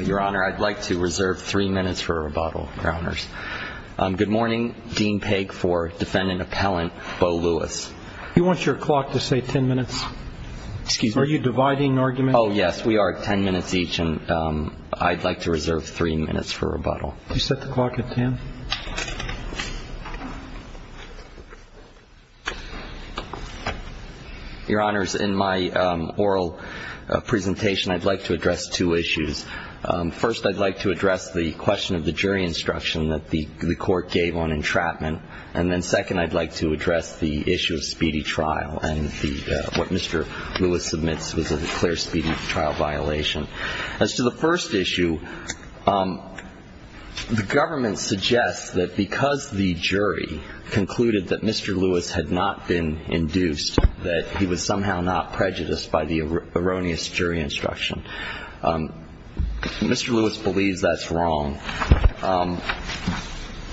Your Honor, I'd like to reserve three minutes for rebuttal, Your Honors. Good morning, Dean Pegg for defendant appellant Beau Lewis. You want your clock to say ten minutes? Excuse me. Are you dividing arguments? Oh, yes, we are at ten minutes each, and I'd like to reserve three minutes for rebuttal. You set the clock at ten. Your Honors, in my oral presentation, I'd like to address two issues. First, I'd like to address the question of the jury instruction that the court gave on entrapment, and then second, I'd like to address the issue of speedy trial and what Mr. Lewis submits was a clear speedy trial violation. As to the first issue, the government suggests that because the jury concluded that Mr. Lewis had not been induced, that he was somehow not prejudiced by the erroneous jury instruction. Mr. Lewis believes that's wrong.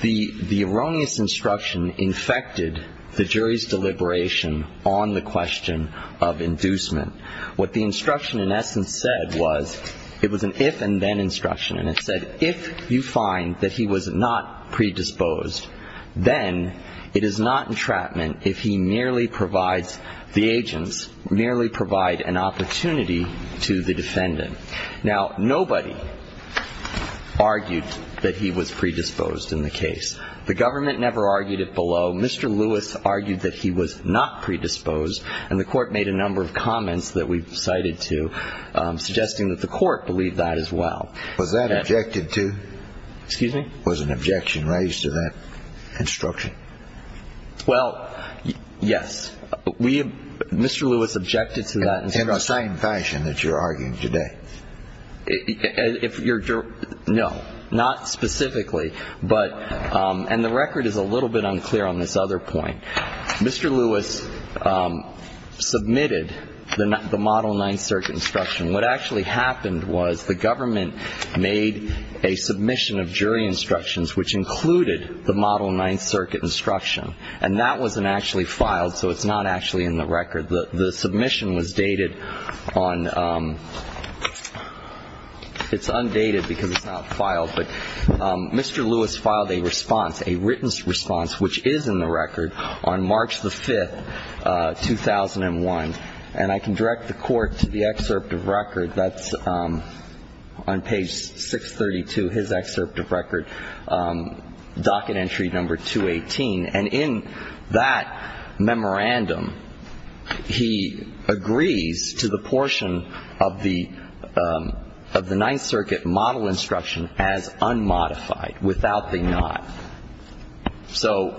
The erroneous instruction infected the jury's deliberation on the question of inducement. What the instruction in essence said was, it was an if and then instruction, and it said if you find that he was not predisposed, then it is not entrapment if he merely provides, the agents merely provide an opportunity to the defendant. Now, nobody argued that he was predisposed in the case. The government never argued it below. Mr. Lewis argued that he was not predisposed, and the court made a number of comments that we've cited to suggesting that the court believed that as well. Was that objected to? Excuse me? Was an objection raised to that instruction? Well, yes. Mr. Lewis objected to that instruction. In the same fashion that you're arguing today? No, not specifically. And the record is a little bit unclear on this other point. Mr. Lewis submitted the Model Ninth Circuit instruction. What actually happened was the government made a submission of jury instructions, which included the Model Ninth Circuit instruction, and that wasn't actually filed, so it's not actually in the record. The submission was dated on – it's undated because it's not filed, but Mr. Lewis filed a response, a written response, which is in the record, on March the 5th, 2001. And I can direct the Court to the excerpt of record that's on page 632, his excerpt of record, docket entry number 218. And in that memorandum, he agrees to the portion of the Ninth Circuit model instruction as unmodified, without the not. Well,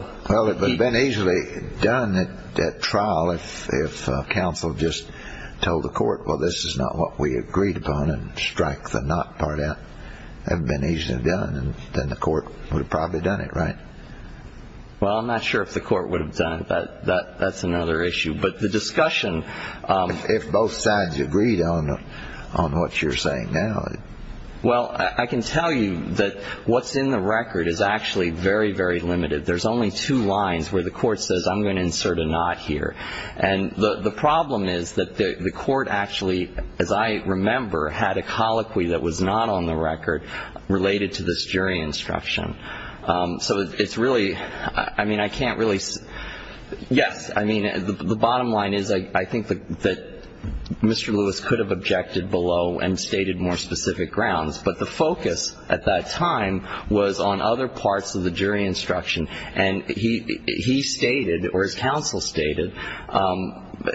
it would have been easily done at trial if counsel just told the court, well, this is not what we agreed upon, and strike the not part out. That would have been easily done, and then the court would have probably done it, right? Well, I'm not sure if the court would have done it. That's another issue. But the discussion – If both sides agreed on what you're saying now. Well, I can tell you that what's in the record is actually very, very limited. There's only two lines where the court says, I'm going to insert a not here. And the problem is that the court actually, as I remember, had a colloquy that was not on the record related to this jury instruction. So it's really – I mean, I can't really – yes, I mean, the bottom line is, I think that Mr. Lewis could have objected below and stated more specific grounds. But the focus at that time was on other parts of the jury instruction. And he stated, or his counsel stated,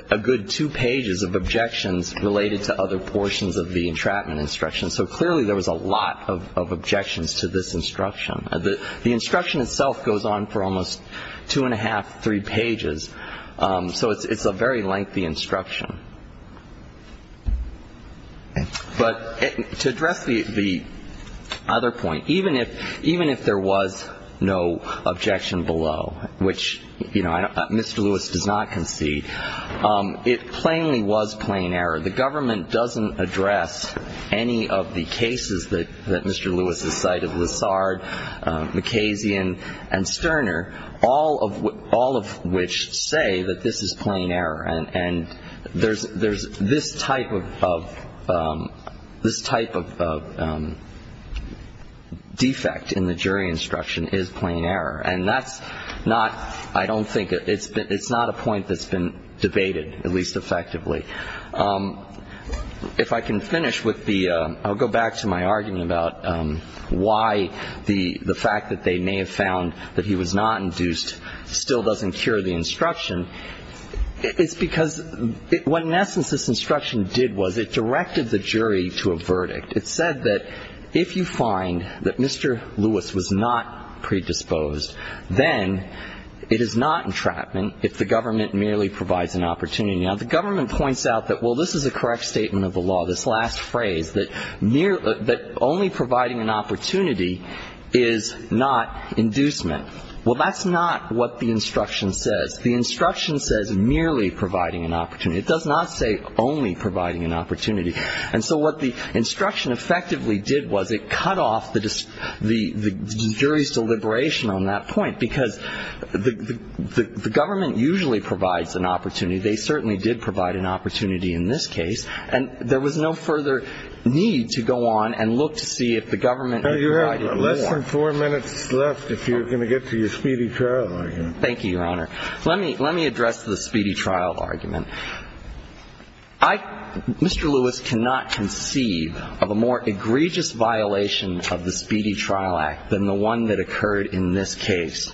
a good two pages of objections related to other portions of the entrapment instruction. So clearly there was a lot of objections to this instruction. The instruction itself goes on for almost two and a half, three pages. So it's a very lengthy instruction. But to address the other point, even if there was no objection below, which Mr. Lewis does not concede, it plainly was plain error. The government doesn't address any of the cases that Mr. Lewis has cited. Lessard, McKazian and Sterner, all of which say that this is plain error. And there's this type of defect in the jury instruction is plain error. And that's not – I don't think – it's not a point that's been debated, at least effectively. If I can finish with the – I'll go back to my argument about why the fact that they may have found that he was not induced still doesn't cure the instruction. It's because what, in essence, this instruction did was it directed the jury to a verdict. It said that if you find that Mr. Lewis was not predisposed, then it is not entrapment if the government merely provides an opportunity. Now, the government points out that, well, this is a correct statement of the law, this last phrase, that only providing an opportunity is not inducement. Well, that's not what the instruction says. The instruction says merely providing an opportunity. It does not say only providing an opportunity. And so what the instruction effectively did was it cut off the jury's deliberation on that point, because the government usually provides an opportunity. They certainly did provide an opportunity in this case. And there was no further need to go on and look to see if the government provided more. You have less than four minutes left if you're going to get to your speedy trial argument. Thank you, Your Honor. Let me address the speedy trial argument. I – Mr. Lewis cannot conceive of a more egregious violation of the Speedy Trial Act than the one that occurred in this case.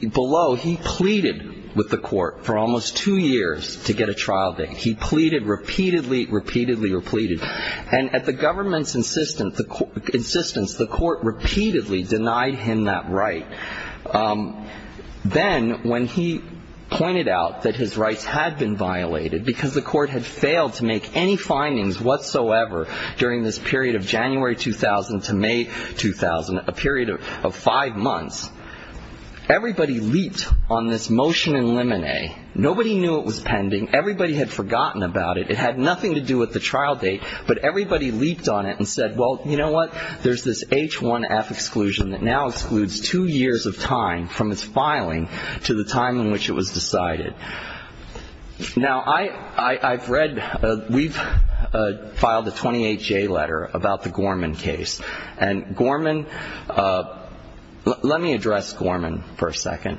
Below, he pleaded with the court for almost two years to get a trial date. He pleaded repeatedly, repeatedly, repeated. And at the government's insistence, the court repeatedly denied him that right. Then when he pointed out that his rights had been violated because the court had failed to make any findings whatsoever during this period of January 2000 to May 2000, a period of five months, everybody leaped on this motion in limine. Nobody knew it was pending. Everybody had forgotten about it. It had nothing to do with the trial date. But everybody leaped on it and said, well, you know what? There's this H1F exclusion that now excludes two years of time from its filing to the time in which it was decided. Now, I've read – we've filed a 28-J letter about the Gorman case. And Gorman – let me address Gorman for a second.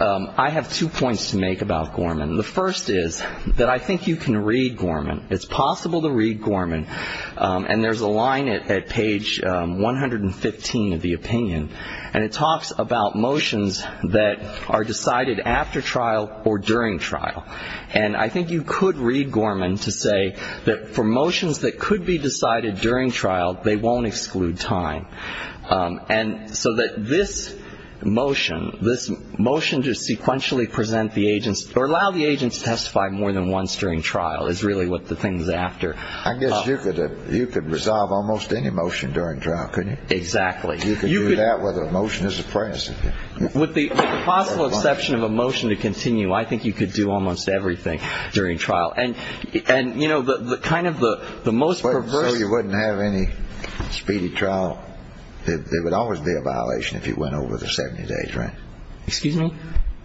I have two points to make about Gorman. The first is that I think you can read Gorman. It's possible to read Gorman. And there's a line at page 115 of the opinion, and it talks about motions that are decided after trial or during trial. And I think you could read Gorman to say that for motions that could be decided during trial, they won't exclude time. And so that this motion, this motion to sequentially present the agents or allow the agents to testify more than once during trial is really what the thing is after. I guess you could resolve almost any motion during trial, couldn't you? Exactly. You could do that with a motion as apprentice. With the possible exception of a motion to continue, I think you could do almost everything during trial. And, you know, kind of the most perverse – So you wouldn't have any speedy trial? It would always be a violation if you went over the 70 days, right? Excuse me?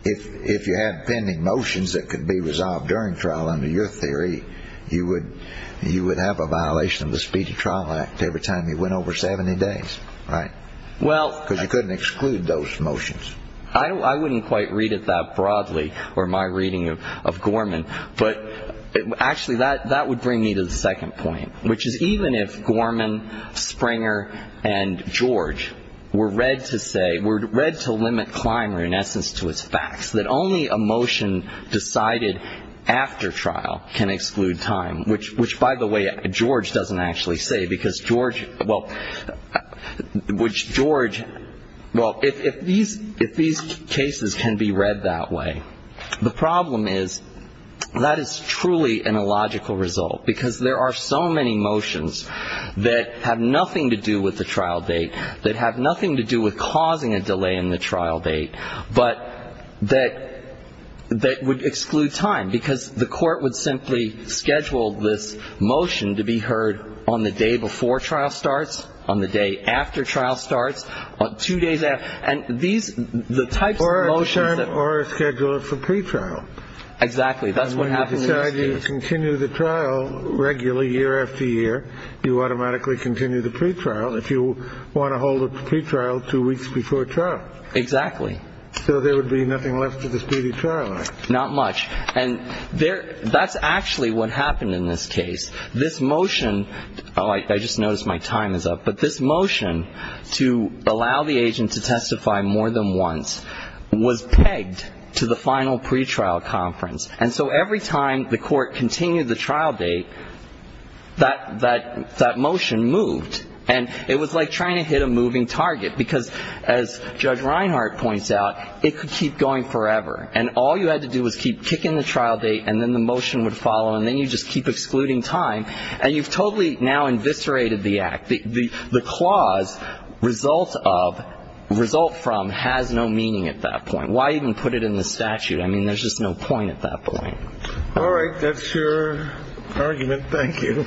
If you had pending motions that could be resolved during trial under your theory, you would have a violation of the Speedy Trial Act every time you went over 70 days, right? Well – Because you couldn't exclude those motions. I wouldn't quite read it that broadly, or my reading of Gorman. But actually, that would bring me to the second point, which is even if Gorman, Springer, and George were read to say – were read to limit Clymer, in essence, to his facts, that only a motion decided after trial can exclude time, which, by the way, George doesn't actually say because George – well, which George – well, if these cases can be read that way, the problem is that is truly an illogical result because there are so many motions that have nothing to do with the trial date, that have nothing to do with causing a delay in the trial date, but that would exclude time because the court would simply schedule this motion to be heard on the day before trial starts, on the day after trial starts, two days after – and these – the types of motions that – Or schedule it for pretrial. Exactly. That's what happens in these cases. You continue the trial regularly, year after year. You automatically continue the pretrial if you want to hold a pretrial two weeks before trial. Exactly. So there would be nothing left of the speedy trial, right? Not much. And there – that's actually what happened in this case. This motion – oh, I just noticed my time is up. But this motion to allow the agent to testify more than once was pegged to the final pretrial conference. And so every time the court continued the trial date, that motion moved. And it was like trying to hit a moving target because, as Judge Reinhart points out, it could keep going forever. And all you had to do was keep kicking the trial date and then the motion would follow and then you'd just keep excluding time. And you've totally now inviscerated the act. The clause, result of, result from, has no meaning at that point. Why even put it in the statute? I mean, there's just no point at that point. All right. That's your argument. Thank you.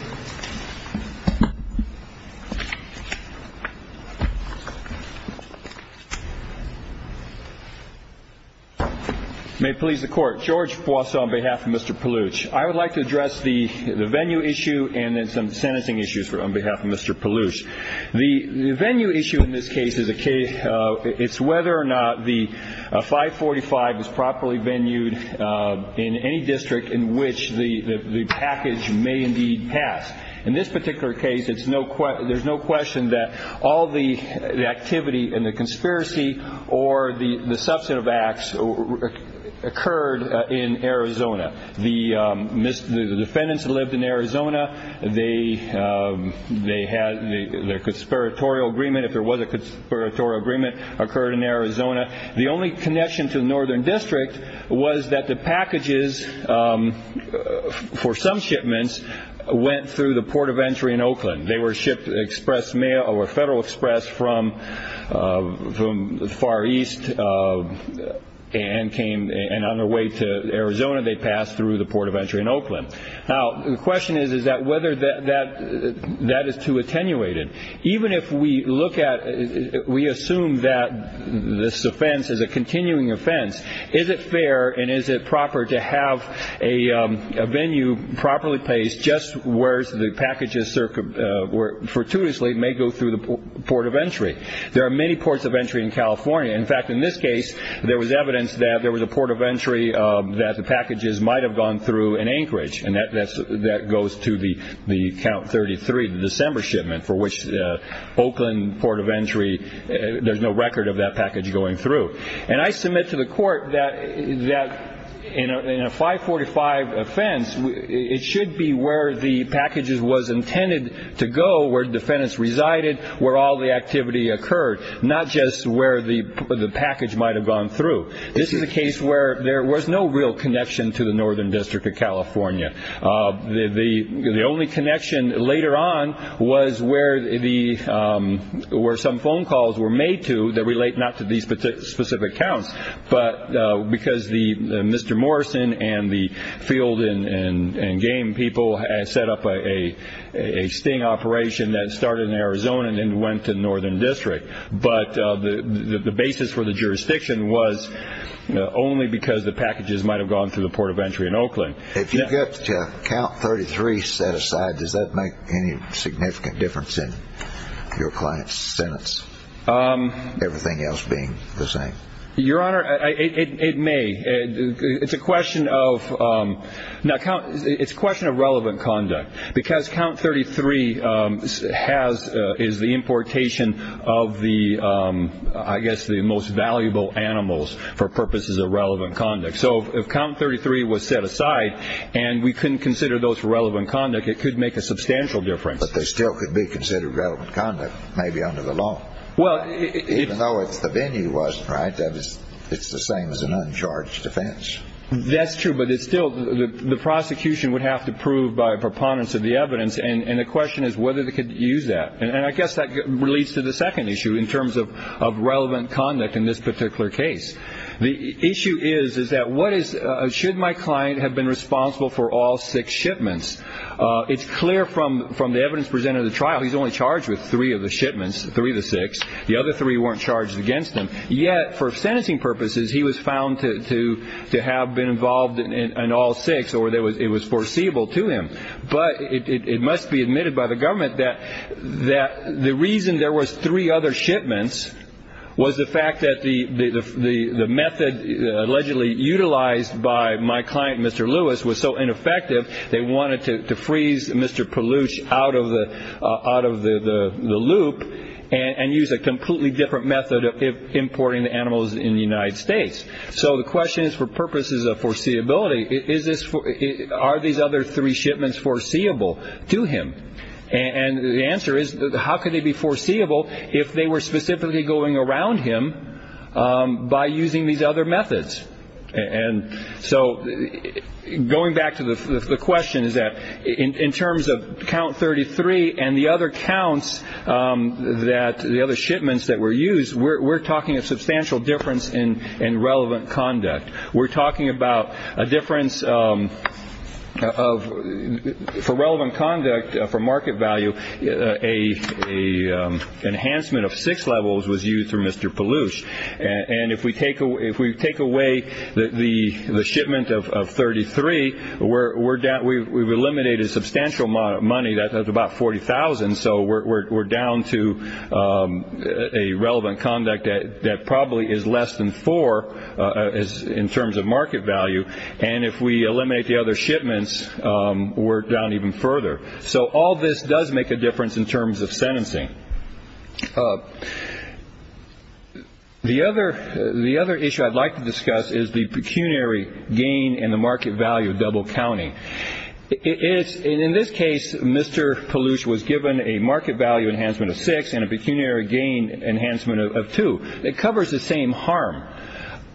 May it please the Court. George Poisson on behalf of Mr. Palooch. I would like to address the venue issue and then some sentencing issues on behalf of Mr. Palooch. The venue issue in this case is whether or not the 545 is properly venued in any district in which the package may indeed pass. In this particular case, there's no question that all the activity and the conspiracy or the substantive acts occurred in Arizona. The defendants lived in Arizona. Their conspiratorial agreement, if there was a conspiratorial agreement, occurred in Arizona. The only connection to the Northern District was that the packages for some shipments went through the port of entry in Oakland. They were shipped express mail or Federal Express from the Far East and on their way to Arizona, they passed through the port of entry in Oakland. Now, the question is, is that whether that is too attenuated. Even if we look at, we assume that this offense is a continuing offense, is it fair and is it proper to have a venue properly placed just where the packages fortuitously may go through the port of entry? There are many ports of entry in California. In fact, in this case, there was evidence that there was a port of entry that the packages might have gone through in Anchorage, and that goes to the count 33, the December shipment, for which Oakland port of entry, there's no record of that package going through. And I submit to the court that in a 545 offense, it should be where the packages was intended to go, where defendants resided, where all the activity occurred, not just where the package might have gone through. This is a case where there was no real connection to the Northern District of California. The only connection later on was where some phone calls were made to that relate not to these specific counts, but because Mr. Morrison and the field and game people had set up a sting operation that started in Arizona and then went to the Northern District. But the basis for the jurisdiction was only because the packages might have gone through the port of entry in Oakland. If you get count 33 set aside, does that make any significant difference in your client's sentence, everything else being the same? Your Honor, it may. It's a question of relevant conduct, because count 33 is the importation of the, I guess, the most valuable animals for purposes of relevant conduct. So if count 33 was set aside and we couldn't consider those for relevant conduct, it could make a substantial difference. But they still could be considered relevant conduct, maybe under the law. Even though it's the venue wasn't, right? It's the same as an uncharged defense. That's true, but it's still the prosecution would have to prove by preponderance of the evidence. And the question is whether they could use that. And I guess that leads to the second issue in terms of relevant conduct in this particular case. The issue is, is that what is, should my client have been responsible for all six shipments? It's clear from the evidence presented at the trial he's only charged with three of the shipments, three of the six. The other three weren't charged against him. Yet for sentencing purposes he was found to have been involved in all six, or it was foreseeable to him. But it must be admitted by the government that the reason there was three other shipments was the fact that the method allegedly utilized by my client, Mr. Lewis, was so ineffective they wanted to freeze Mr. Palouche out of the loop and use a completely different method of importing the animals in the United States. So the question is, for purposes of foreseeability, are these other three shipments foreseeable to him? And the answer is, how could they be foreseeable if they were specifically going around him by using these other methods? And so going back to the question, is that in terms of count 33 and the other counts that, the other shipments that were used, we're talking a substantial difference in relevant conduct. We're talking about a difference of, for relevant conduct, for market value, an enhancement of six levels was used for Mr. Palouche. And if we take away the shipment of 33, we've eliminated substantial money. That's about $40,000. So we're down to a relevant conduct that probably is less than four in terms of market value. And if we eliminate the other shipments, we're down even further. So all this does make a difference in terms of sentencing. The other issue I'd like to discuss is the pecuniary gain and the market value of double counting. In this case, Mr. Palouche was given a market value enhancement of six and a pecuniary gain enhancement of two. It covers the same harm.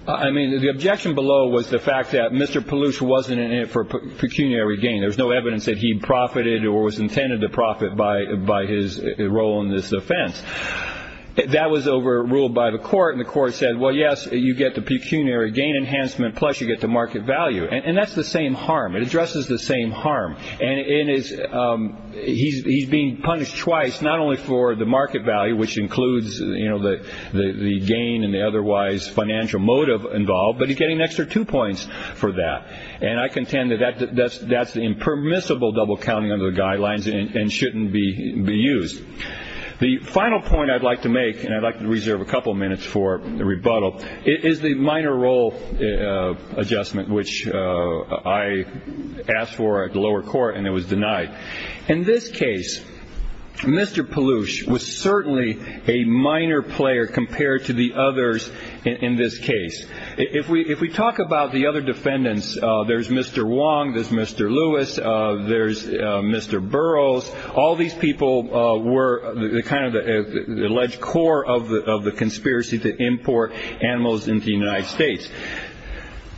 I mean, the objection below was the fact that Mr. Palouche wasn't in it for pecuniary gain. There's no evidence that he profited or was intended to profit by his role in this offense. That was overruled by the court, and the court said, well, yes, you get the pecuniary gain enhancement, plus you get the market value. And that's the same harm. It addresses the same harm. And he's being punished twice, not only for the market value, which includes the gain and the otherwise financial motive involved, but he's getting an extra two points for that. And I contend that that's impermissible double counting under the guidelines and shouldn't be used. The final point I'd like to make, and I'd like to reserve a couple minutes for the rebuttal, is the minor role adjustment, which I asked for at the lower court and it was denied. In this case, Mr. Palouche was certainly a minor player compared to the others in this case. If we talk about the other defendants, there's Mr. Wong, there's Mr. Lewis, there's Mr. Burroughs. All these people were kind of the alleged core of the conspiracy to import animals into the United States.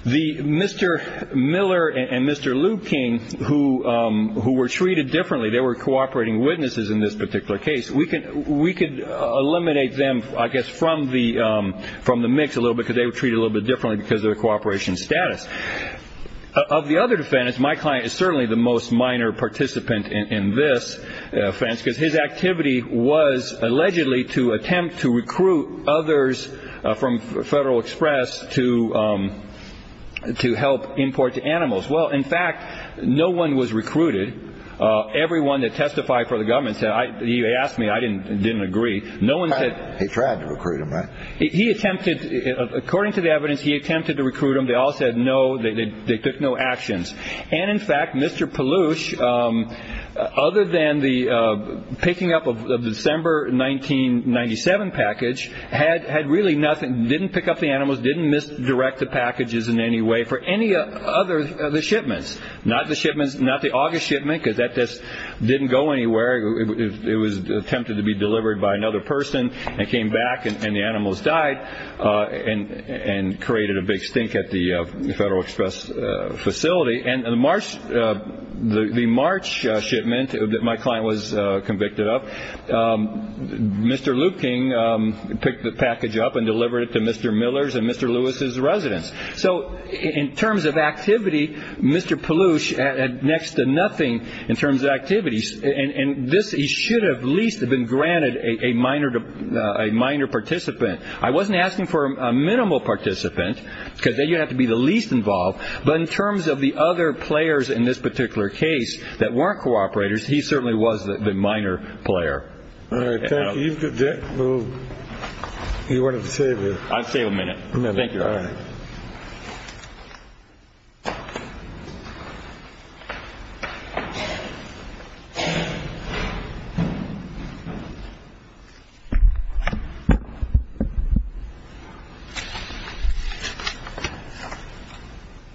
Mr. Miller and Mr. Liu King, who were treated differently, they were cooperating witnesses in this particular case. We could eliminate them, I guess, from the mix a little bit because they were treated a little bit differently because of their cooperation status. Of the other defendants, my client is certainly the most minor participant in this offense because his activity was allegedly to attempt to recruit others from Federal Express to help import the animals. Well, in fact, no one was recruited. Everyone that testified for the government said, you asked me, I didn't agree. He tried to recruit them, right? He attempted, according to the evidence, he attempted to recruit them. They all said no. They took no actions. And, in fact, Mr. Palouche, other than the picking up of the December 1997 package, had really nothing, didn't pick up the animals, didn't misdirect the packages in any way for any other of the shipments. Not the shipments, not the August shipment because that just didn't go anywhere. It was attempted to be delivered by another person. It came back and the animals died and created a big stink at the Federal Express facility. And the March shipment that my client was convicted of, Mr. Liu King picked the package up and delivered it to Mr. Miller's and Mr. Lewis's residence. So in terms of activity, Mr. Palouche had next to nothing in terms of activities. And this, he should have at least have been granted a minor participant. I wasn't asking for a minimal participant because then you'd have to be the least involved. But in terms of the other players in this particular case that weren't cooperators, he certainly was the minor player. All right. Thank you. You wanted to say a minute. I'll say a minute. Thank you. All right.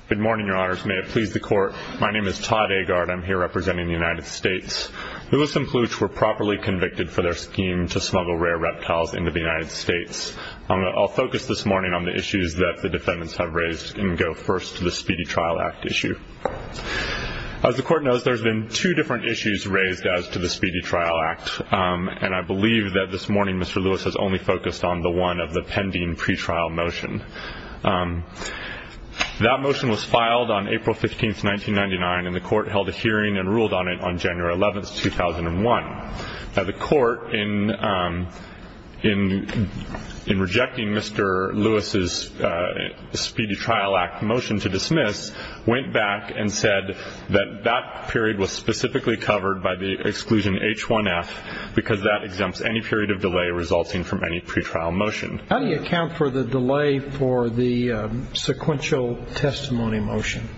Good morning, Your Honors. May it please the Court. My name is Todd Agard. I'm here representing the United States. Lewis and Palouche were properly convicted for their scheme to smuggle rare reptiles into the United States. I'll focus this morning on the issues that the defendants have raised and go first to the Speedy Trial Act issue. As the Court knows, there's been two different issues raised as to the Speedy Trial Act, and I believe that this morning Mr. Lewis has only focused on the one of the pending pretrial motion. That motion was filed on April 15, 1999, and the Court held a hearing and ruled on it on January 11, 2001. Now, the Court, in rejecting Mr. Lewis's Speedy Trial Act motion to dismiss, went back and said that that period was specifically covered by the exclusion H1F because that exempts any period of delay resulting from any pretrial motion. How do you account for the delay for the sequential testimony motion?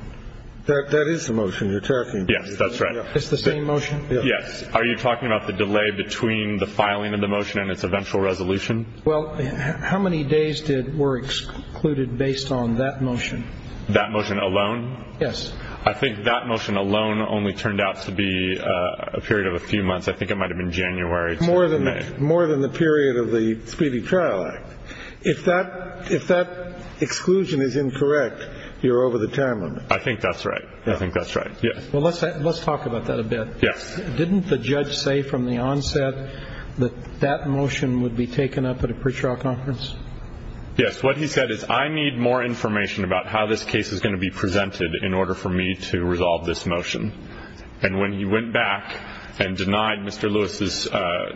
That is the motion you're talking about. Yes, that's right. It's the same motion? Yes. Are you talking about the delay between the filing of the motion and its eventual resolution? Well, how many days were excluded based on that motion? That motion alone? Yes. I think that motion alone only turned out to be a period of a few months. I think it might have been January to May. More than the period of the Speedy Trial Act. If that exclusion is incorrect, you're over the time limit. I think that's right. I think that's right, yes. Well, let's talk about that a bit. Yes. Didn't the judge say from the onset that that motion would be taken up at a pretrial conference? Yes. What he said is I need more information about how this case is going to be presented in order for me to resolve this motion. And when he went back and denied Mr. Lewis's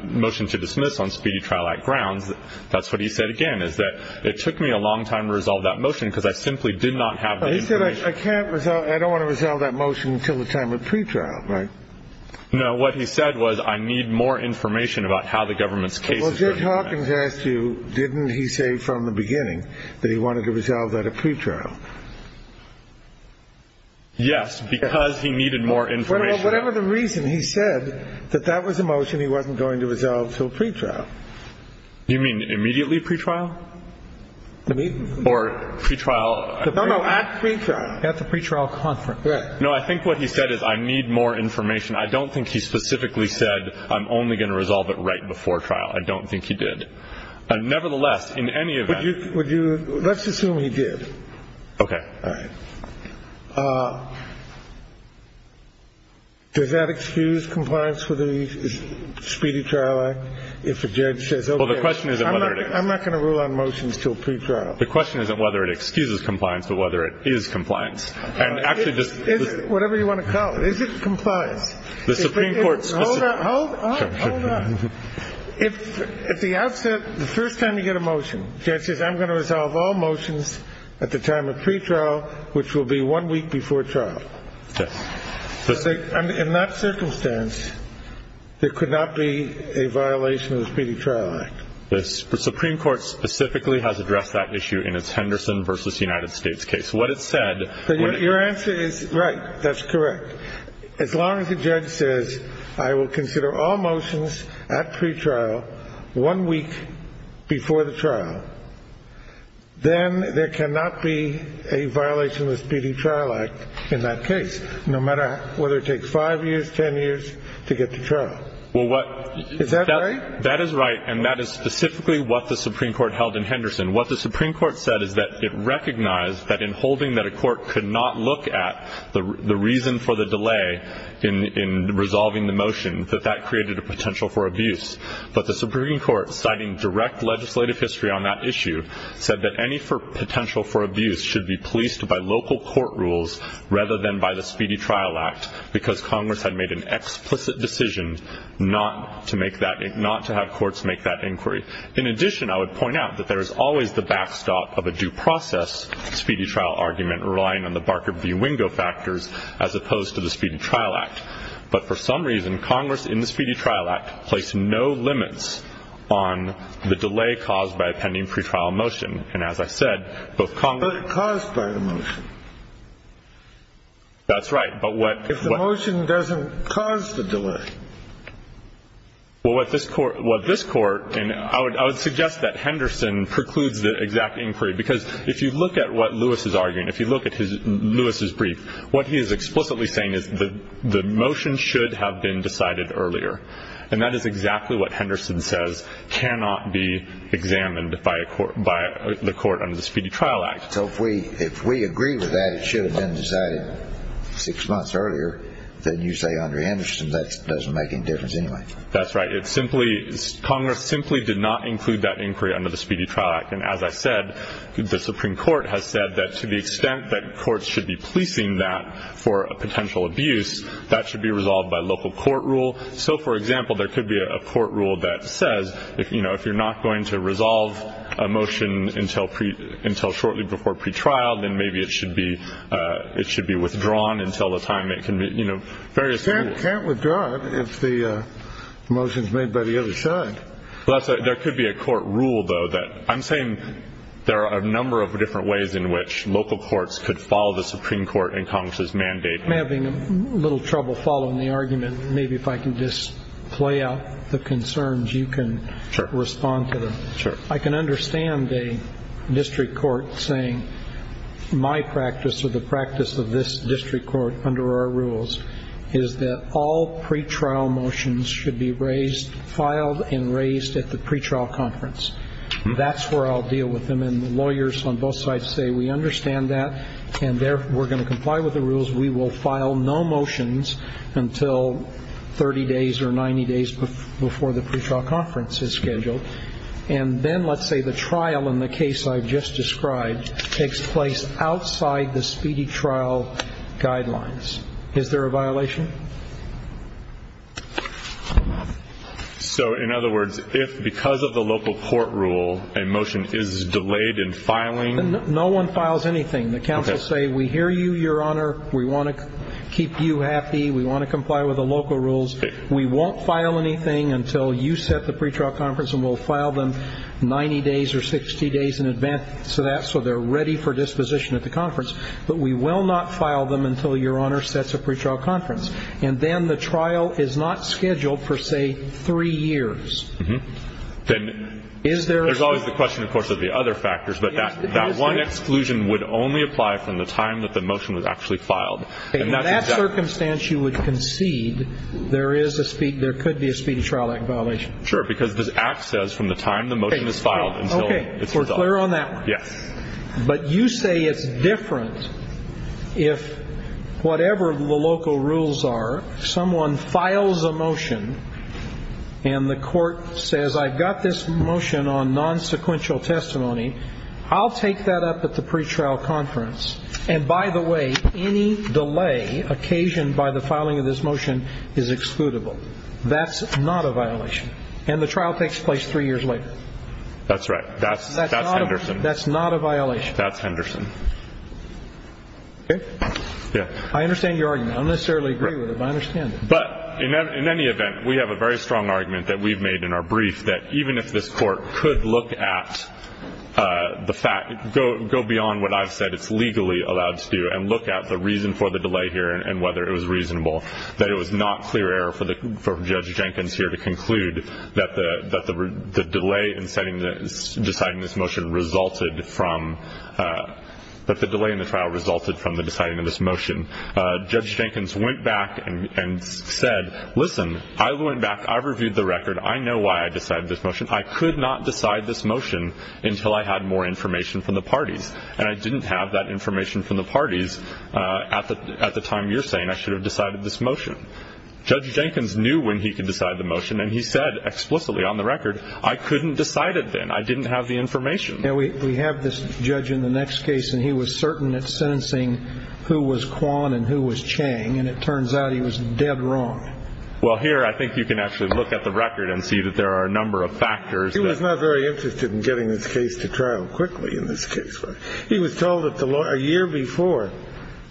motion to dismiss on Speedy Trial Act grounds, that's what he said again is that it took me a long time to resolve that motion because I simply did not have the information. I don't want to resolve that motion until the time of pretrial, right? No. What he said was I need more information about how the government's case is going to be presented. Well, Judge Hawkins asked you, didn't he say from the beginning that he wanted to resolve that at pretrial? Yes, because he needed more information. Whatever the reason, he said that that was a motion he wasn't going to resolve until pretrial. You mean immediately pretrial? Or pretrial at pretrial? At the pretrial conference. Right. No, I think what he said is I need more information. I don't think he specifically said I'm only going to resolve it right before trial. I don't think he did. Nevertheless, in any event. Would you – let's assume he did. Okay. All right. Does that excuse compliance with the Speedy Trial Act if a judge says, okay, I'm not going to rule on motions until pretrial? The question isn't whether it excuses compliance, but whether it is compliance. Whatever you want to call it. Is it compliance? The Supreme Court – Hold on. Hold on. If at the outset, the first time you get a motion, the judge says I'm going to resolve all motions at the time of pretrial, which will be one week before trial. Yes. In that circumstance, there could not be a violation of the Speedy Trial Act. The Supreme Court specifically has addressed that issue in its Henderson v. United States case. What it said – Your answer is right. That's correct. As long as the judge says I will consider all motions at pretrial one week before the trial, then there cannot be a violation of the Speedy Trial Act in that case, no matter whether it takes five years, ten years to get to trial. Well, what – Is that right? That is right, and that is specifically what the Supreme Court held in Henderson. What the Supreme Court said is that it recognized that in holding that a court could not look at the reason for the delay in resolving the motion, that that created a potential for abuse. But the Supreme Court, citing direct legislative history on that issue, said that any potential for abuse should be policed by local court rules rather than by the Speedy Trial Act because Congress had made an explicit decision not to make that – not to have courts make that inquiry. In addition, I would point out that there is always the backstop of a due process Speedy Trial argument relying on the Barker v. Wingo factors as opposed to the Speedy Trial Act. But for some reason, Congress in the Speedy Trial Act placed no limits on the delay caused by a pending pretrial motion. And as I said, both Congress – But it caused by the motion. That's right. But what – If the motion doesn't cause the delay. Well, what this court – what this court – and I would suggest that Henderson precludes the exact inquiry because if you look at what Lewis is arguing, if you look at Lewis's brief, what he is explicitly saying is the motion should have been decided earlier. And that is exactly what Henderson says cannot be examined by a court – by the court under the Speedy Trial Act. So if we – if we agree with that it should have been decided six months earlier than you say, Andrew Henderson, that doesn't make any difference anyway. That's right. It simply – Congress simply did not include that inquiry under the Speedy Trial Act. And as I said, the Supreme Court has said that to the extent that courts should be policing that for potential abuse, that should be resolved by local court rule. So, for example, there could be a court rule that says, you know, if you're not going to resolve a motion until shortly before pretrial, then maybe it should be – it should be withdrawn until the time it can be – you know, various rules. You can't withdraw it if the motion is made by the other side. Well, that's right. There could be a court rule, though, that – I'm saying there are a number of different ways in which local courts could follow the Supreme Court and Congress's mandate. I'm having a little trouble following the argument. Maybe if I can just play out the concerns, you can respond to them. Sure. I can understand a district court saying my practice or the practice of this district court under our rules is that all pretrial motions should be raised – filed and raised at the pretrial conference. That's where I'll deal with them. And the lawyers on both sides say we understand that and therefore we're going to comply with the rules. We will file no motions until 30 days or 90 days before the pretrial conference is scheduled. And then let's say the trial in the case I've just described takes place outside the speedy trial guidelines. Is there a violation? So, in other words, if because of the local court rule a motion is delayed in filing – No one files anything. Okay. And the court will say we hear you, Your Honor. We want to keep you happy. We want to comply with the local rules. We won't file anything until you set the pretrial conference and we'll file them 90 days or 60 days in advance of that so they're ready for disposition at the conference. But we will not file them until Your Honor sets a pretrial conference. And then the trial is not scheduled for, say, three years. Mm-hmm. Then is there – There's always the question, of course, of the other factors. But that one exclusion would only apply from the time that the motion was actually filed. Okay. In that circumstance you would concede there is a speedy – there could be a speedy trial act violation. Sure. Because this act says from the time the motion is filed until it's resolved. Okay. We're clear on that one. Yes. But you say it's different if whatever the local rules are, someone files a motion and the court says, I've got this motion on nonsequential testimony. I'll take that up at the pretrial conference. And by the way, any delay occasioned by the filing of this motion is excludable. That's not a violation. And the trial takes place three years later. That's right. That's Henderson. That's not a violation. That's Henderson. Okay? Yeah. I understand your argument. I don't necessarily agree with it, but I understand it. But in any event, we have a very strong argument that we've made in our brief, that even if this court could look at the fact – go beyond what I've said it's legally allowed to do and look at the reason for the delay here and whether it was reasonable, that it was not clear error for Judge Jenkins here to conclude that the delay in setting this – deciding this motion resulted from – that the delay in the trial resulted from the deciding of this motion. Judge Jenkins went back and said, listen, I went back, I reviewed the record, I know why I decided this motion. I could not decide this motion until I had more information from the parties. And I didn't have that information from the parties at the time you're saying I should have decided this motion. Judge Jenkins knew when he could decide the motion, and he said explicitly on the record, I couldn't decide it then. I didn't have the information. We have this judge in the next case, and he was certain at sentencing who was Kwan and who was Chang, and it turns out he was dead wrong. Well, here I think you can actually look at the record and see that there are a number of factors. He was not very interested in getting this case to trial quickly in this case. He was told a year before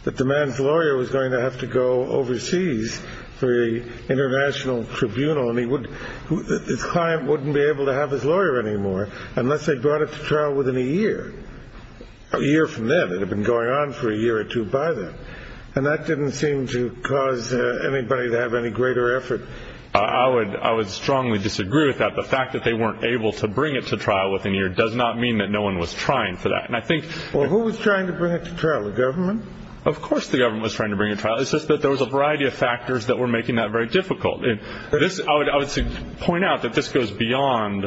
that the man's lawyer was going to have to go overseas for the international tribunal, and his client wouldn't be able to have his lawyer anymore unless they brought it to trial within a year. A year from then, it had been going on for a year or two by then, and that didn't seem to cause anybody to have any greater effort. I would strongly disagree with that. The fact that they weren't able to bring it to trial within a year does not mean that no one was trying for that. Well, who was trying to bring it to trial, the government? Of course the government was trying to bring it to trial. It's just that there was a variety of factors that were making that very difficult. I would point out that this goes beyond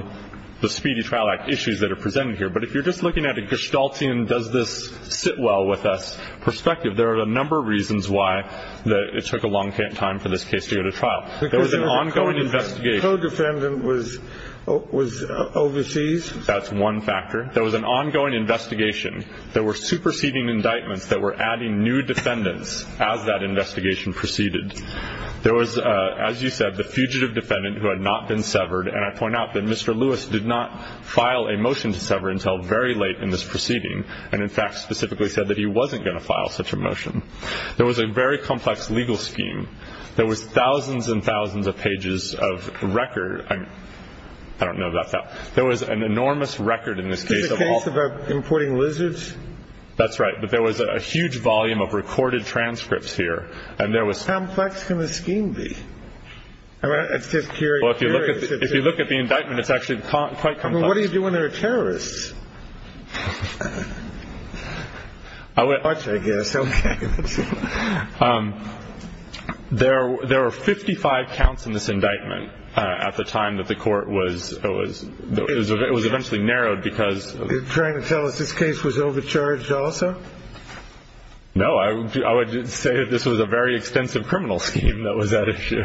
the Speedy Trial Act issues that are presented here, but if you're just looking at a Gestaltian does-this-sit-well-with-us perspective, there are a number of reasons why it took a long time for this case to go to trial. There was an ongoing investigation. The co-defendant was overseas? That's one factor. There was an ongoing investigation. There were superseding indictments that were adding new defendants as that investigation proceeded. There was, as you said, the fugitive defendant who had not been severed, and I point out that Mr. Lewis did not file a motion to sever until very late in this proceeding and, in fact, specifically said that he wasn't going to file such a motion. There was a very complex legal scheme. There was thousands and thousands of pages of record. I don't know about that. There was an enormous record in this case of all- Is this a case of importing lizards? That's right, but there was a huge volume of recorded transcripts here, and there was- How complex can a scheme be? It's just curious. Well, if you look at the indictment, it's actually quite complex. What do you do when there are terrorists? Watch, I guess. Okay. There were 55 counts in this indictment at the time that the court was- It was eventually narrowed because- Are you trying to tell us this case was overcharged also? No. I would say that this was a very extensive criminal scheme that was at issue,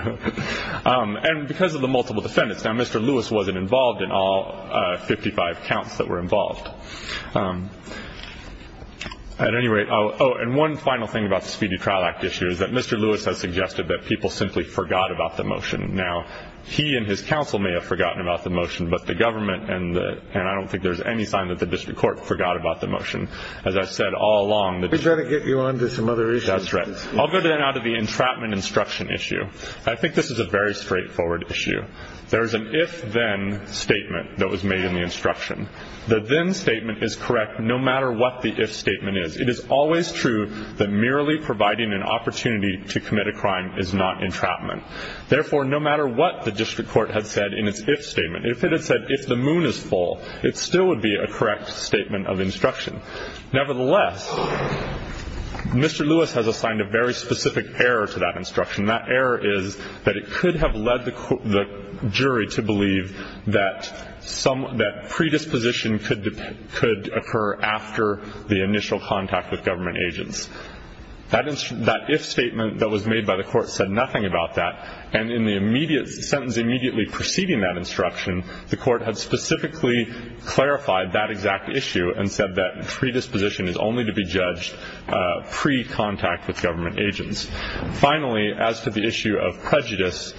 and because of the multiple defendants. Now, Mr. Lewis wasn't involved in all 55 counts that were involved. At any rate- Oh, and one final thing about the Speedy Trial Act issue is that Mr. Lewis has suggested that people simply forgot about the motion. Now, he and his counsel may have forgotten about the motion, but the government and the- and I don't think there's any sign that the district court forgot about the motion. As I've said all along- We've got to get you on to some other issues. That's right. I'll go then out of the entrapment instruction issue. I think this is a very straightforward issue. There is an if-then statement that was made in the instruction. The then statement is correct no matter what the if statement is. It is always true that merely providing an opportunity to commit a crime is not entrapment. Therefore, no matter what the district court had said in its if statement, if it had said if the moon is full, it still would be a correct statement of instruction. Nevertheless, Mr. Lewis has assigned a very specific error to that instruction. That error is that it could have led the jury to believe that some- that predisposition could occur after the initial contact with government agents. That if statement that was made by the court said nothing about that, and in the immediate sentence immediately preceding that instruction, the court had specifically clarified that exact issue and said that predisposition is only to be judged pre-contact with government agents. Finally, as to the issue of prejudice,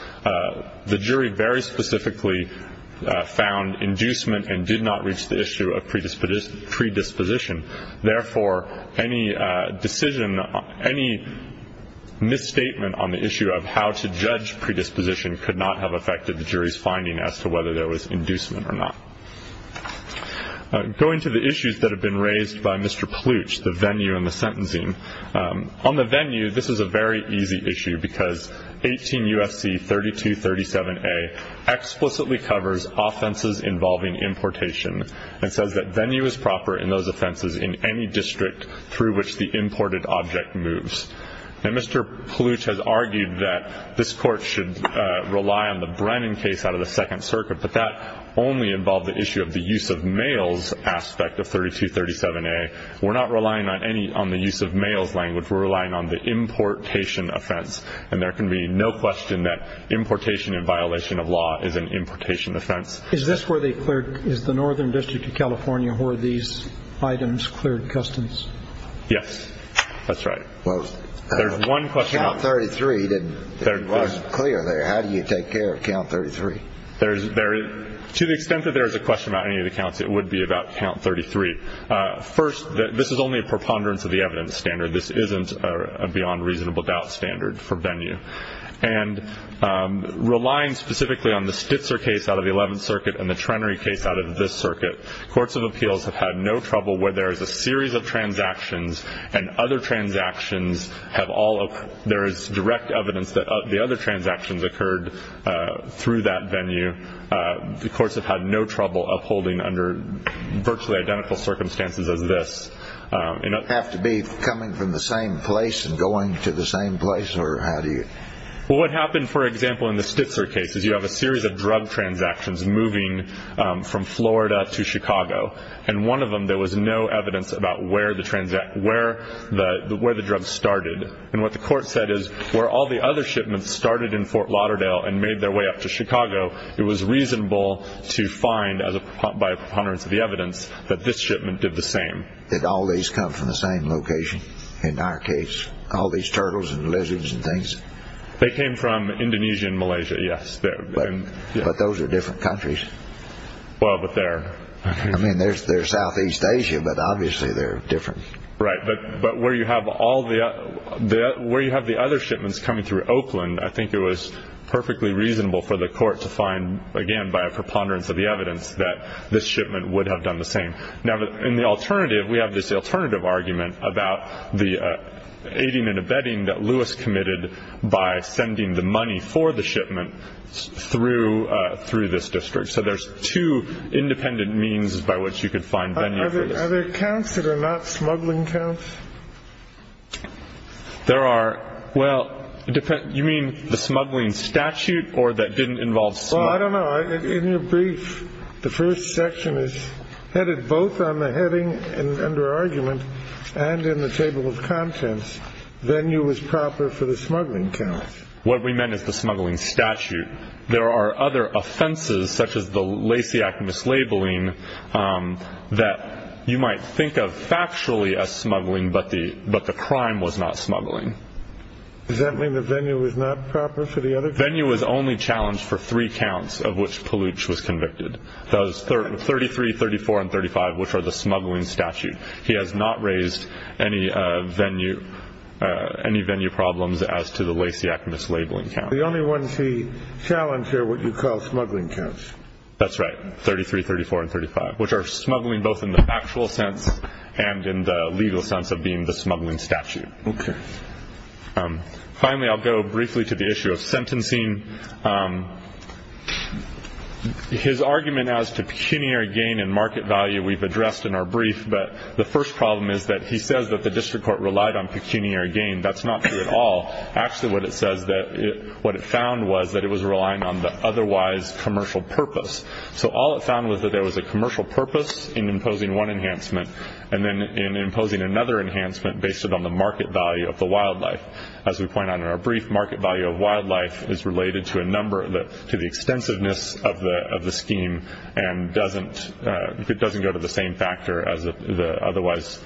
the jury very specifically found inducement and did not reach the issue of predisposition. Therefore, any decision- any misstatement on the issue of how to judge predisposition could not have affected the jury's finding as to whether there was inducement or not. Going to the issues that have been raised by Mr. Plooch, the venue and the sentencing. On the venue, this is a very easy issue because 18 U.S.C. 3237A explicitly covers offenses involving importation and says that venue is proper in those offenses in any district through which the imported object moves. Now, Mr. Plooch has argued that this court should rely on the Brennan case out of the Second Circuit, but that only involved the issue of the use of males aspect of 3237A. We're not relying on the use of males language. We're relying on the importation offense, and there can be no question that importation in violation of law is an importation offense. Is this where they cleared- is the Northern District of California where these items cleared customs? Yes, that's right. There's one question. Count 33 didn't clear there. How do you take care of count 33? To the extent that there is a question about any of the counts, it would be about count 33. First, this is only a preponderance of the evidence standard. This isn't a beyond reasonable doubt standard for venue. And relying specifically on the Stitzer case out of the Eleventh Circuit and the Trenary case out of this circuit, courts of appeals have had no trouble where there is a series of transactions and other transactions have all- there is direct evidence that the other transactions occurred through that venue. The courts have had no trouble upholding under virtually identical circumstances as this. Have to be coming from the same place and going to the same place, or how do you- Well, what happened, for example, in the Stitzer case, is you have a series of drug transactions moving from Florida to Chicago. And one of them, there was no evidence about where the drug started. And what the court said is where all the other shipments started in Fort Lauderdale and made their way up to Chicago, it was reasonable to find by a preponderance of the evidence that this shipment did the same. Did all these come from the same location in our case? All these turtles and lizards and things? They came from Indonesia and Malaysia, yes. But those are different countries. Well, but they're- I mean, they're Southeast Asia, but obviously they're different. Right, but where you have all the- where you have the other shipments coming through Oakland, I think it was perfectly reasonable for the court to find, again, by a preponderance of the evidence that this shipment would have done the same. Now, in the alternative, we have this alternative argument about the aiding and abetting that Lewis committed by sending the money for the shipment through this district. So there's two independent means by which you could find venue for this. Are there counts that are not smuggling counts? There are- well, you mean the smuggling statute or that didn't involve smuggling? Well, I don't know. In your brief, the first section is headed both on the heading under argument and in the table of contents, venue was proper for the smuggling count. What we meant is the smuggling statute. There are other offenses, such as the Lasiak mislabeling, that you might think of factually as smuggling, but the crime was not smuggling. Does that mean the venue was not proper for the other count? Venue was only challenged for three counts of which Palooch was convicted, those 33, 34, and 35, which are the smuggling statute. He has not raised any venue problems as to the Lasiak mislabeling count. The only ones he challenged are what you call smuggling counts? That's right, 33, 34, and 35, which are smuggling both in the factual sense and in the legal sense of being the smuggling statute. Okay. Finally, I'll go briefly to the issue of sentencing. His argument as to pecuniary gain and market value we've addressed in our brief, but the first problem is that he says that the district court relied on pecuniary gain. That's not true at all. Actually, what it found was that it was relying on the otherwise commercial purpose. All it found was that there was a commercial purpose in imposing one enhancement and then in imposing another enhancement based on the market value of the wildlife. As we point out in our brief, market value of wildlife is related to the extensiveness of the scheme and it doesn't go to the same factor as the otherwise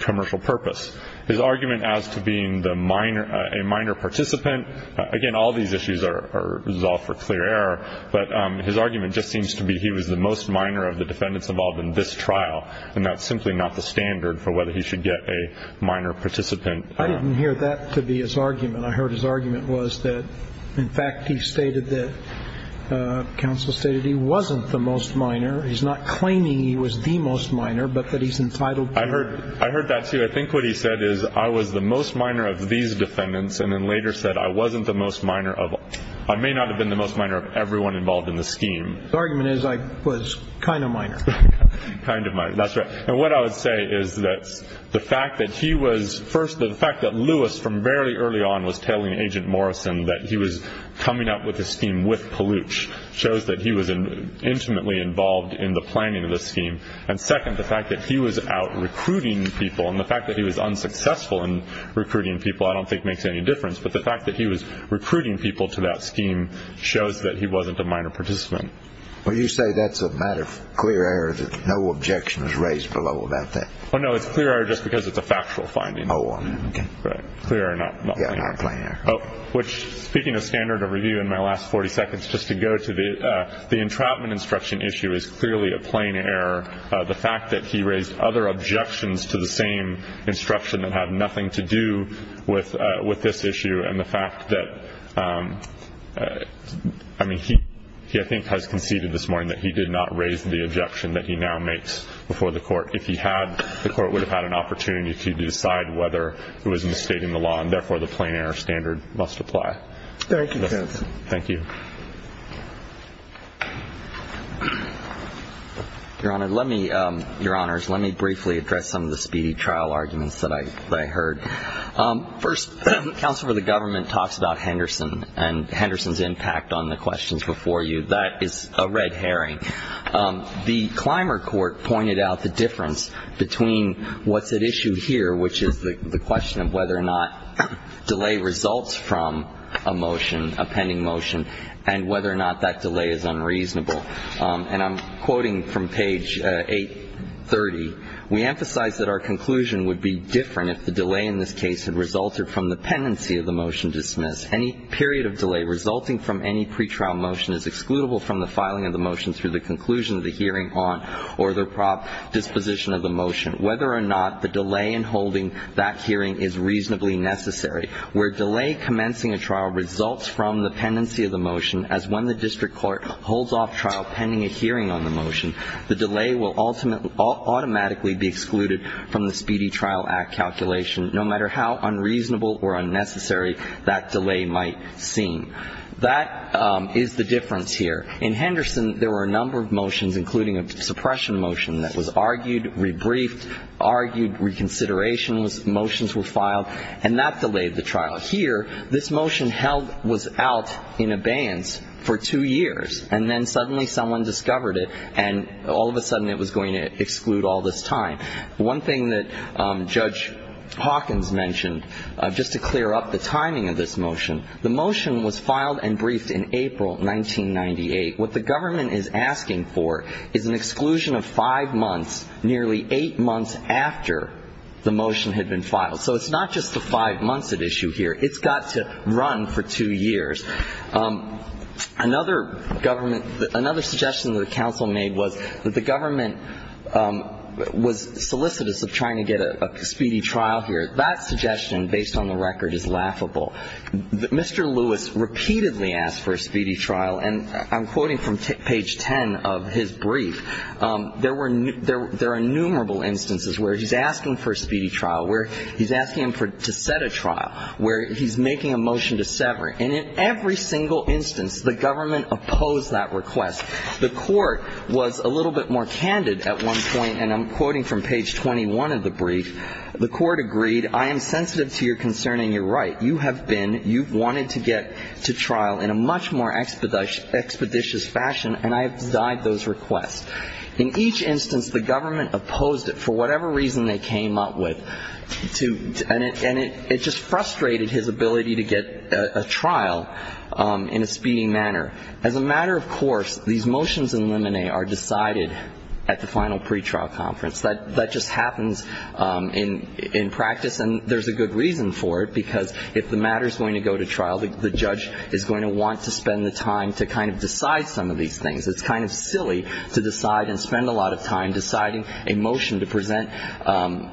commercial purpose. His argument as to being a minor participant, again, all these issues are resolved for clear error, but his argument just seems to be he was the most minor of the defendants involved in this trial and that's simply not the standard for whether he should get a minor participant. I didn't hear that to be his argument. I heard his argument was that, in fact, he stated that the counsel stated he wasn't the most minor. He's not claiming he was the most minor, but that he's entitled to. I heard that, too. I think what he said is I was the most minor of these defendants and then later said I wasn't the most minor of all. I may not have been the most minor of everyone involved in the scheme. His argument is I was kind of minor. Kind of minor. That's right. And what I would say is that the fact that he was first, the fact that Lewis from very early on was telling Agent Morrison that he was coming up with the scheme with Palooch shows that he was intimately involved in the planning of the scheme, and second, the fact that he was out recruiting people and the fact that he was unsuccessful in recruiting people I don't think makes any difference, but the fact that he was recruiting people to that scheme shows that he wasn't a minor participant. Well, you say that's a matter of clear error, that no objection was raised below that. Well, no, it's clear error just because it's a factual finding. Oh, okay. Clear error, not plain error. Yeah, not plain error. Which, speaking of standard of review in my last 40 seconds, just to go to the entrapment instruction issue is clearly a plain error. The fact that he raised other objections to the same instruction that had nothing to do with this issue and the fact that, I mean, he I think has conceded this morning that he did not raise the objection that he now makes before the court. If he had, the court would have had an opportunity to decide whether it was misstating the law, and therefore the plain error standard must apply. Thank you, Judge. Thank you. Your Honor, let me briefly address some of the speedy trial arguments that I heard. First, Counsel for the Government talks about Henderson and Henderson's impact on the questions before you. That is a red herring. The Clymer court pointed out the difference between what's at issue here, which is the question of whether or not delay results from a motion, a pending motion, and whether or not that delay is unreasonable. And I'm quoting from page 830. We emphasize that our conclusion would be different if the delay in this case had resulted from the pendency of the motion dismissed. Any period of delay resulting from any pretrial motion is excludable from the filing of the motion through the conclusion of the hearing on or the disposition of the motion. Whether or not the delay in holding that hearing is reasonably necessary. Where delay commencing a trial results from the pendency of the motion, as when the district court holds off trial pending a hearing on the motion, the delay will automatically be excluded from the Speedy Trial Act calculation, no matter how unreasonable or unnecessary that delay might seem. That is the difference here. In Henderson, there were a number of motions, including a suppression motion that was argued, rebriefed, argued, reconsideration was the motions were filed, and that delayed the trial. Here, this motion held was out in abeyance for two years, and then suddenly someone discovered it, and all of a sudden it was going to exclude all this time. One thing that Judge Hawkins mentioned, just to clear up the timing of this motion, the motion was filed and briefed in April 1998. What the government is asking for is an exclusion of five months, nearly eight months after the motion had been filed. So it's not just the five months at issue here. It's got to run for two years. Another government, another suggestion that the counsel made was that the government was solicitous of trying to get a speedy trial here. That suggestion, based on the record, is laughable. Mr. Lewis repeatedly asked for a speedy trial. And I'm quoting from page 10 of his brief. There are innumerable instances where he's asking for a speedy trial, where he's asking him to set a trial, where he's making a motion to sever. And in every single instance, the government opposed that request. The court was a little bit more candid at one point, and I'm quoting from page 21 of the brief. The court agreed, I am sensitive to your concern and your right. You have been, you've wanted to get to trial in a much more expeditious fashion, and I have denied those requests. In each instance, the government opposed it for whatever reason they came up with. And it just frustrated his ability to get a trial in a speedy manner. As a matter of course, these motions in limine are decided at the final pretrial conference. That just happens in practice. And there's a good reason for it, because if the matter is going to go to trial, the judge is going to want to spend the time to kind of decide some of these things. It's kind of silly to decide and spend a lot of time deciding a motion to present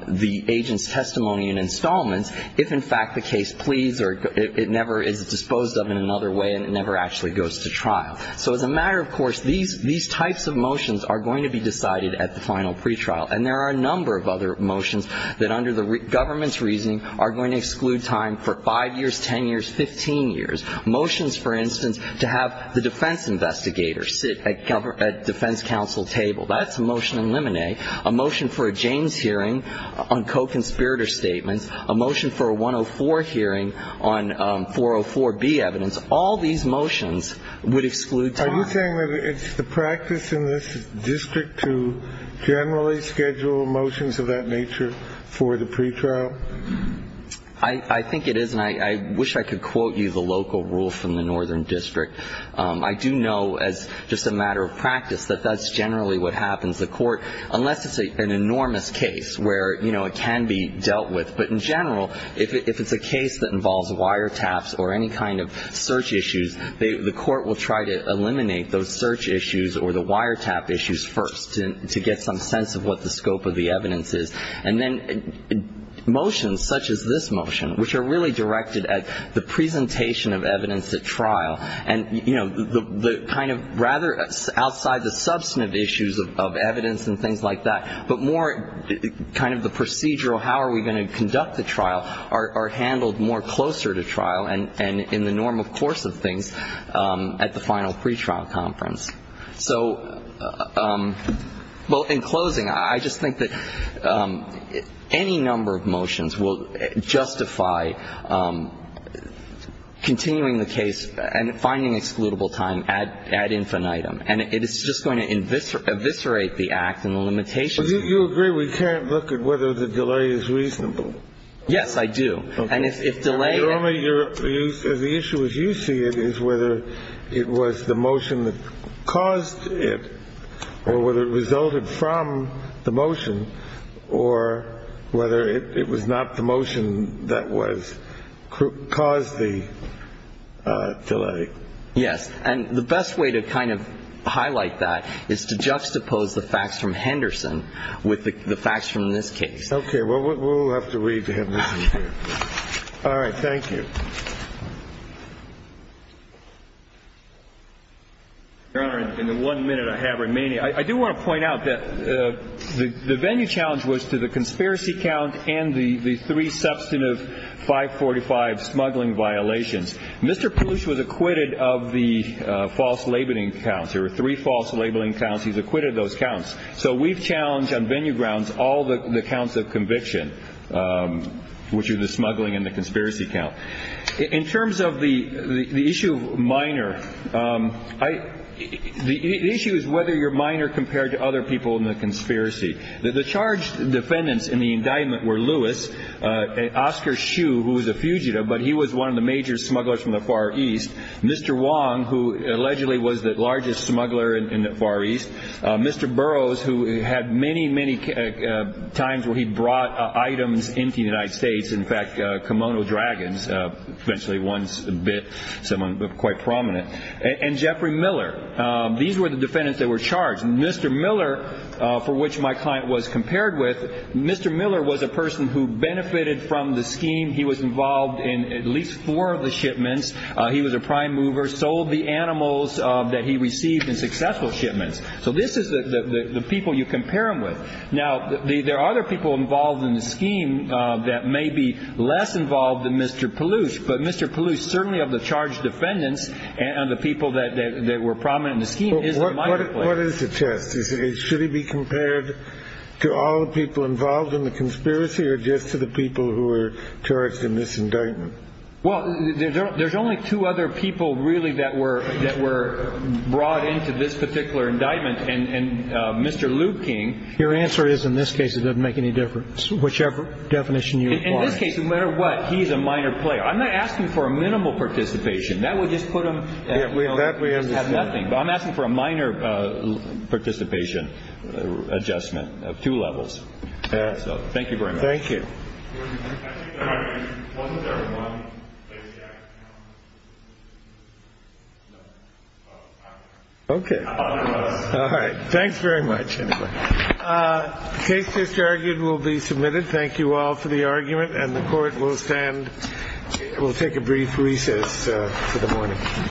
the agent's testimony and installments, if in fact the case pleads or it never is disposed of in another way and it never actually goes to trial. So as a matter of course, these types of motions are going to be decided at the final pretrial. And there are a number of other motions that under the government's reasoning are going to exclude time for 5 years, 10 years, 15 years. Motions, for instance, to have the defense investigator sit at defense counsel table. That's a motion in limine. A motion for a James hearing on co-conspirator statements. A motion for a 104 hearing on 404B evidence. All these motions would exclude time. Are you saying that it's the practice in this district to generally schedule motions of that nature for the pretrial? I think it is. And I wish I could quote you the local rule from the northern district. I do know as just a matter of practice that that's generally what happens. The court, unless it's an enormous case where, you know, it can be dealt with. But in general, if it's a case that involves wiretaps or any kind of search issues, the court will try to eliminate those search issues or the wiretap issues first to get some sense of what the scope of the evidence is. And then motions such as this motion, which are really directed at the presentation of evidence at trial. And, you know, the kind of rather outside the substantive issues of evidence and things like that, but more kind of the procedural how are we going to conduct the trial are handled more closer to trial and in the normal course of things at the final pretrial conference. So, well, in closing, I just think that any number of motions will justify continuing the case and finding excludable time ad infinitum. And it is just going to eviscerate the act and the limitations. Do you agree we can't look at whether the delay is reasonable? Yes, I do. And if delay only the issue is you see it is whether it was the motion that caused it or whether it resulted from the motion or whether it was not the motion that was caused the delay. Yes. And the best way to kind of highlight that is to juxtapose the facts from Henderson with the facts from this case. Okay. Well, we'll have to read to him. All right. Thank you. Your Honor, in the one minute I have remaining, I do want to point out that the venue challenge was to the conspiracy count and the three substantive 545 smuggling violations. Mr. Poosh was acquitted of the false labeling counts. There were three false labeling counts. He's acquitted of those counts. So we've challenged on venue grounds all the counts of conviction, which are the smuggling and the conspiracy count. In terms of the issue of minor, the issue is whether you're minor compared to other people in the conspiracy. The charged defendants in the indictment were Lewis, Oscar Shue, who was a fugitive, but he was one of the major smugglers from the Far East. Mr. Wong, who allegedly was the largest smuggler in the Far East. Mr. Burroughs, who had many, many times where he brought items into the United States, in fact, kimono dragons, eventually once bit someone quite prominent. And Jeffrey Miller. These were the defendants that were charged. Mr. Miller, for which my client was compared with. Mr. Miller was a person who benefited from the scheme. He was involved in at least four of the shipments. He was a prime mover, sold the animals that he received in successful shipments. So this is the people you compare him with. Now, there are other people involved in the scheme that may be less involved than Mr. Palouse, but Mr. Palouse, certainly of the charged defendants and the people that were prominent in the scheme. What is the test? Should he be compared to all the people involved in the conspiracy or just to the people who were charged in this indictment? Well, there's only two other people really that were that were brought into this particular indictment. And Mr. Liu King. Your answer is in this case, it doesn't make any difference. Whichever definition you in this case, no matter what, he's a minor player. I'm not asking for a minimal participation. That would just put him that we have nothing. But I'm asking for a minor participation adjustment of two levels. So thank you very much. Thank you. OK. All right. Thanks very much. Case disargued will be submitted. Thank you all for the argument. And the court will stand. We'll take a brief recess for the morning.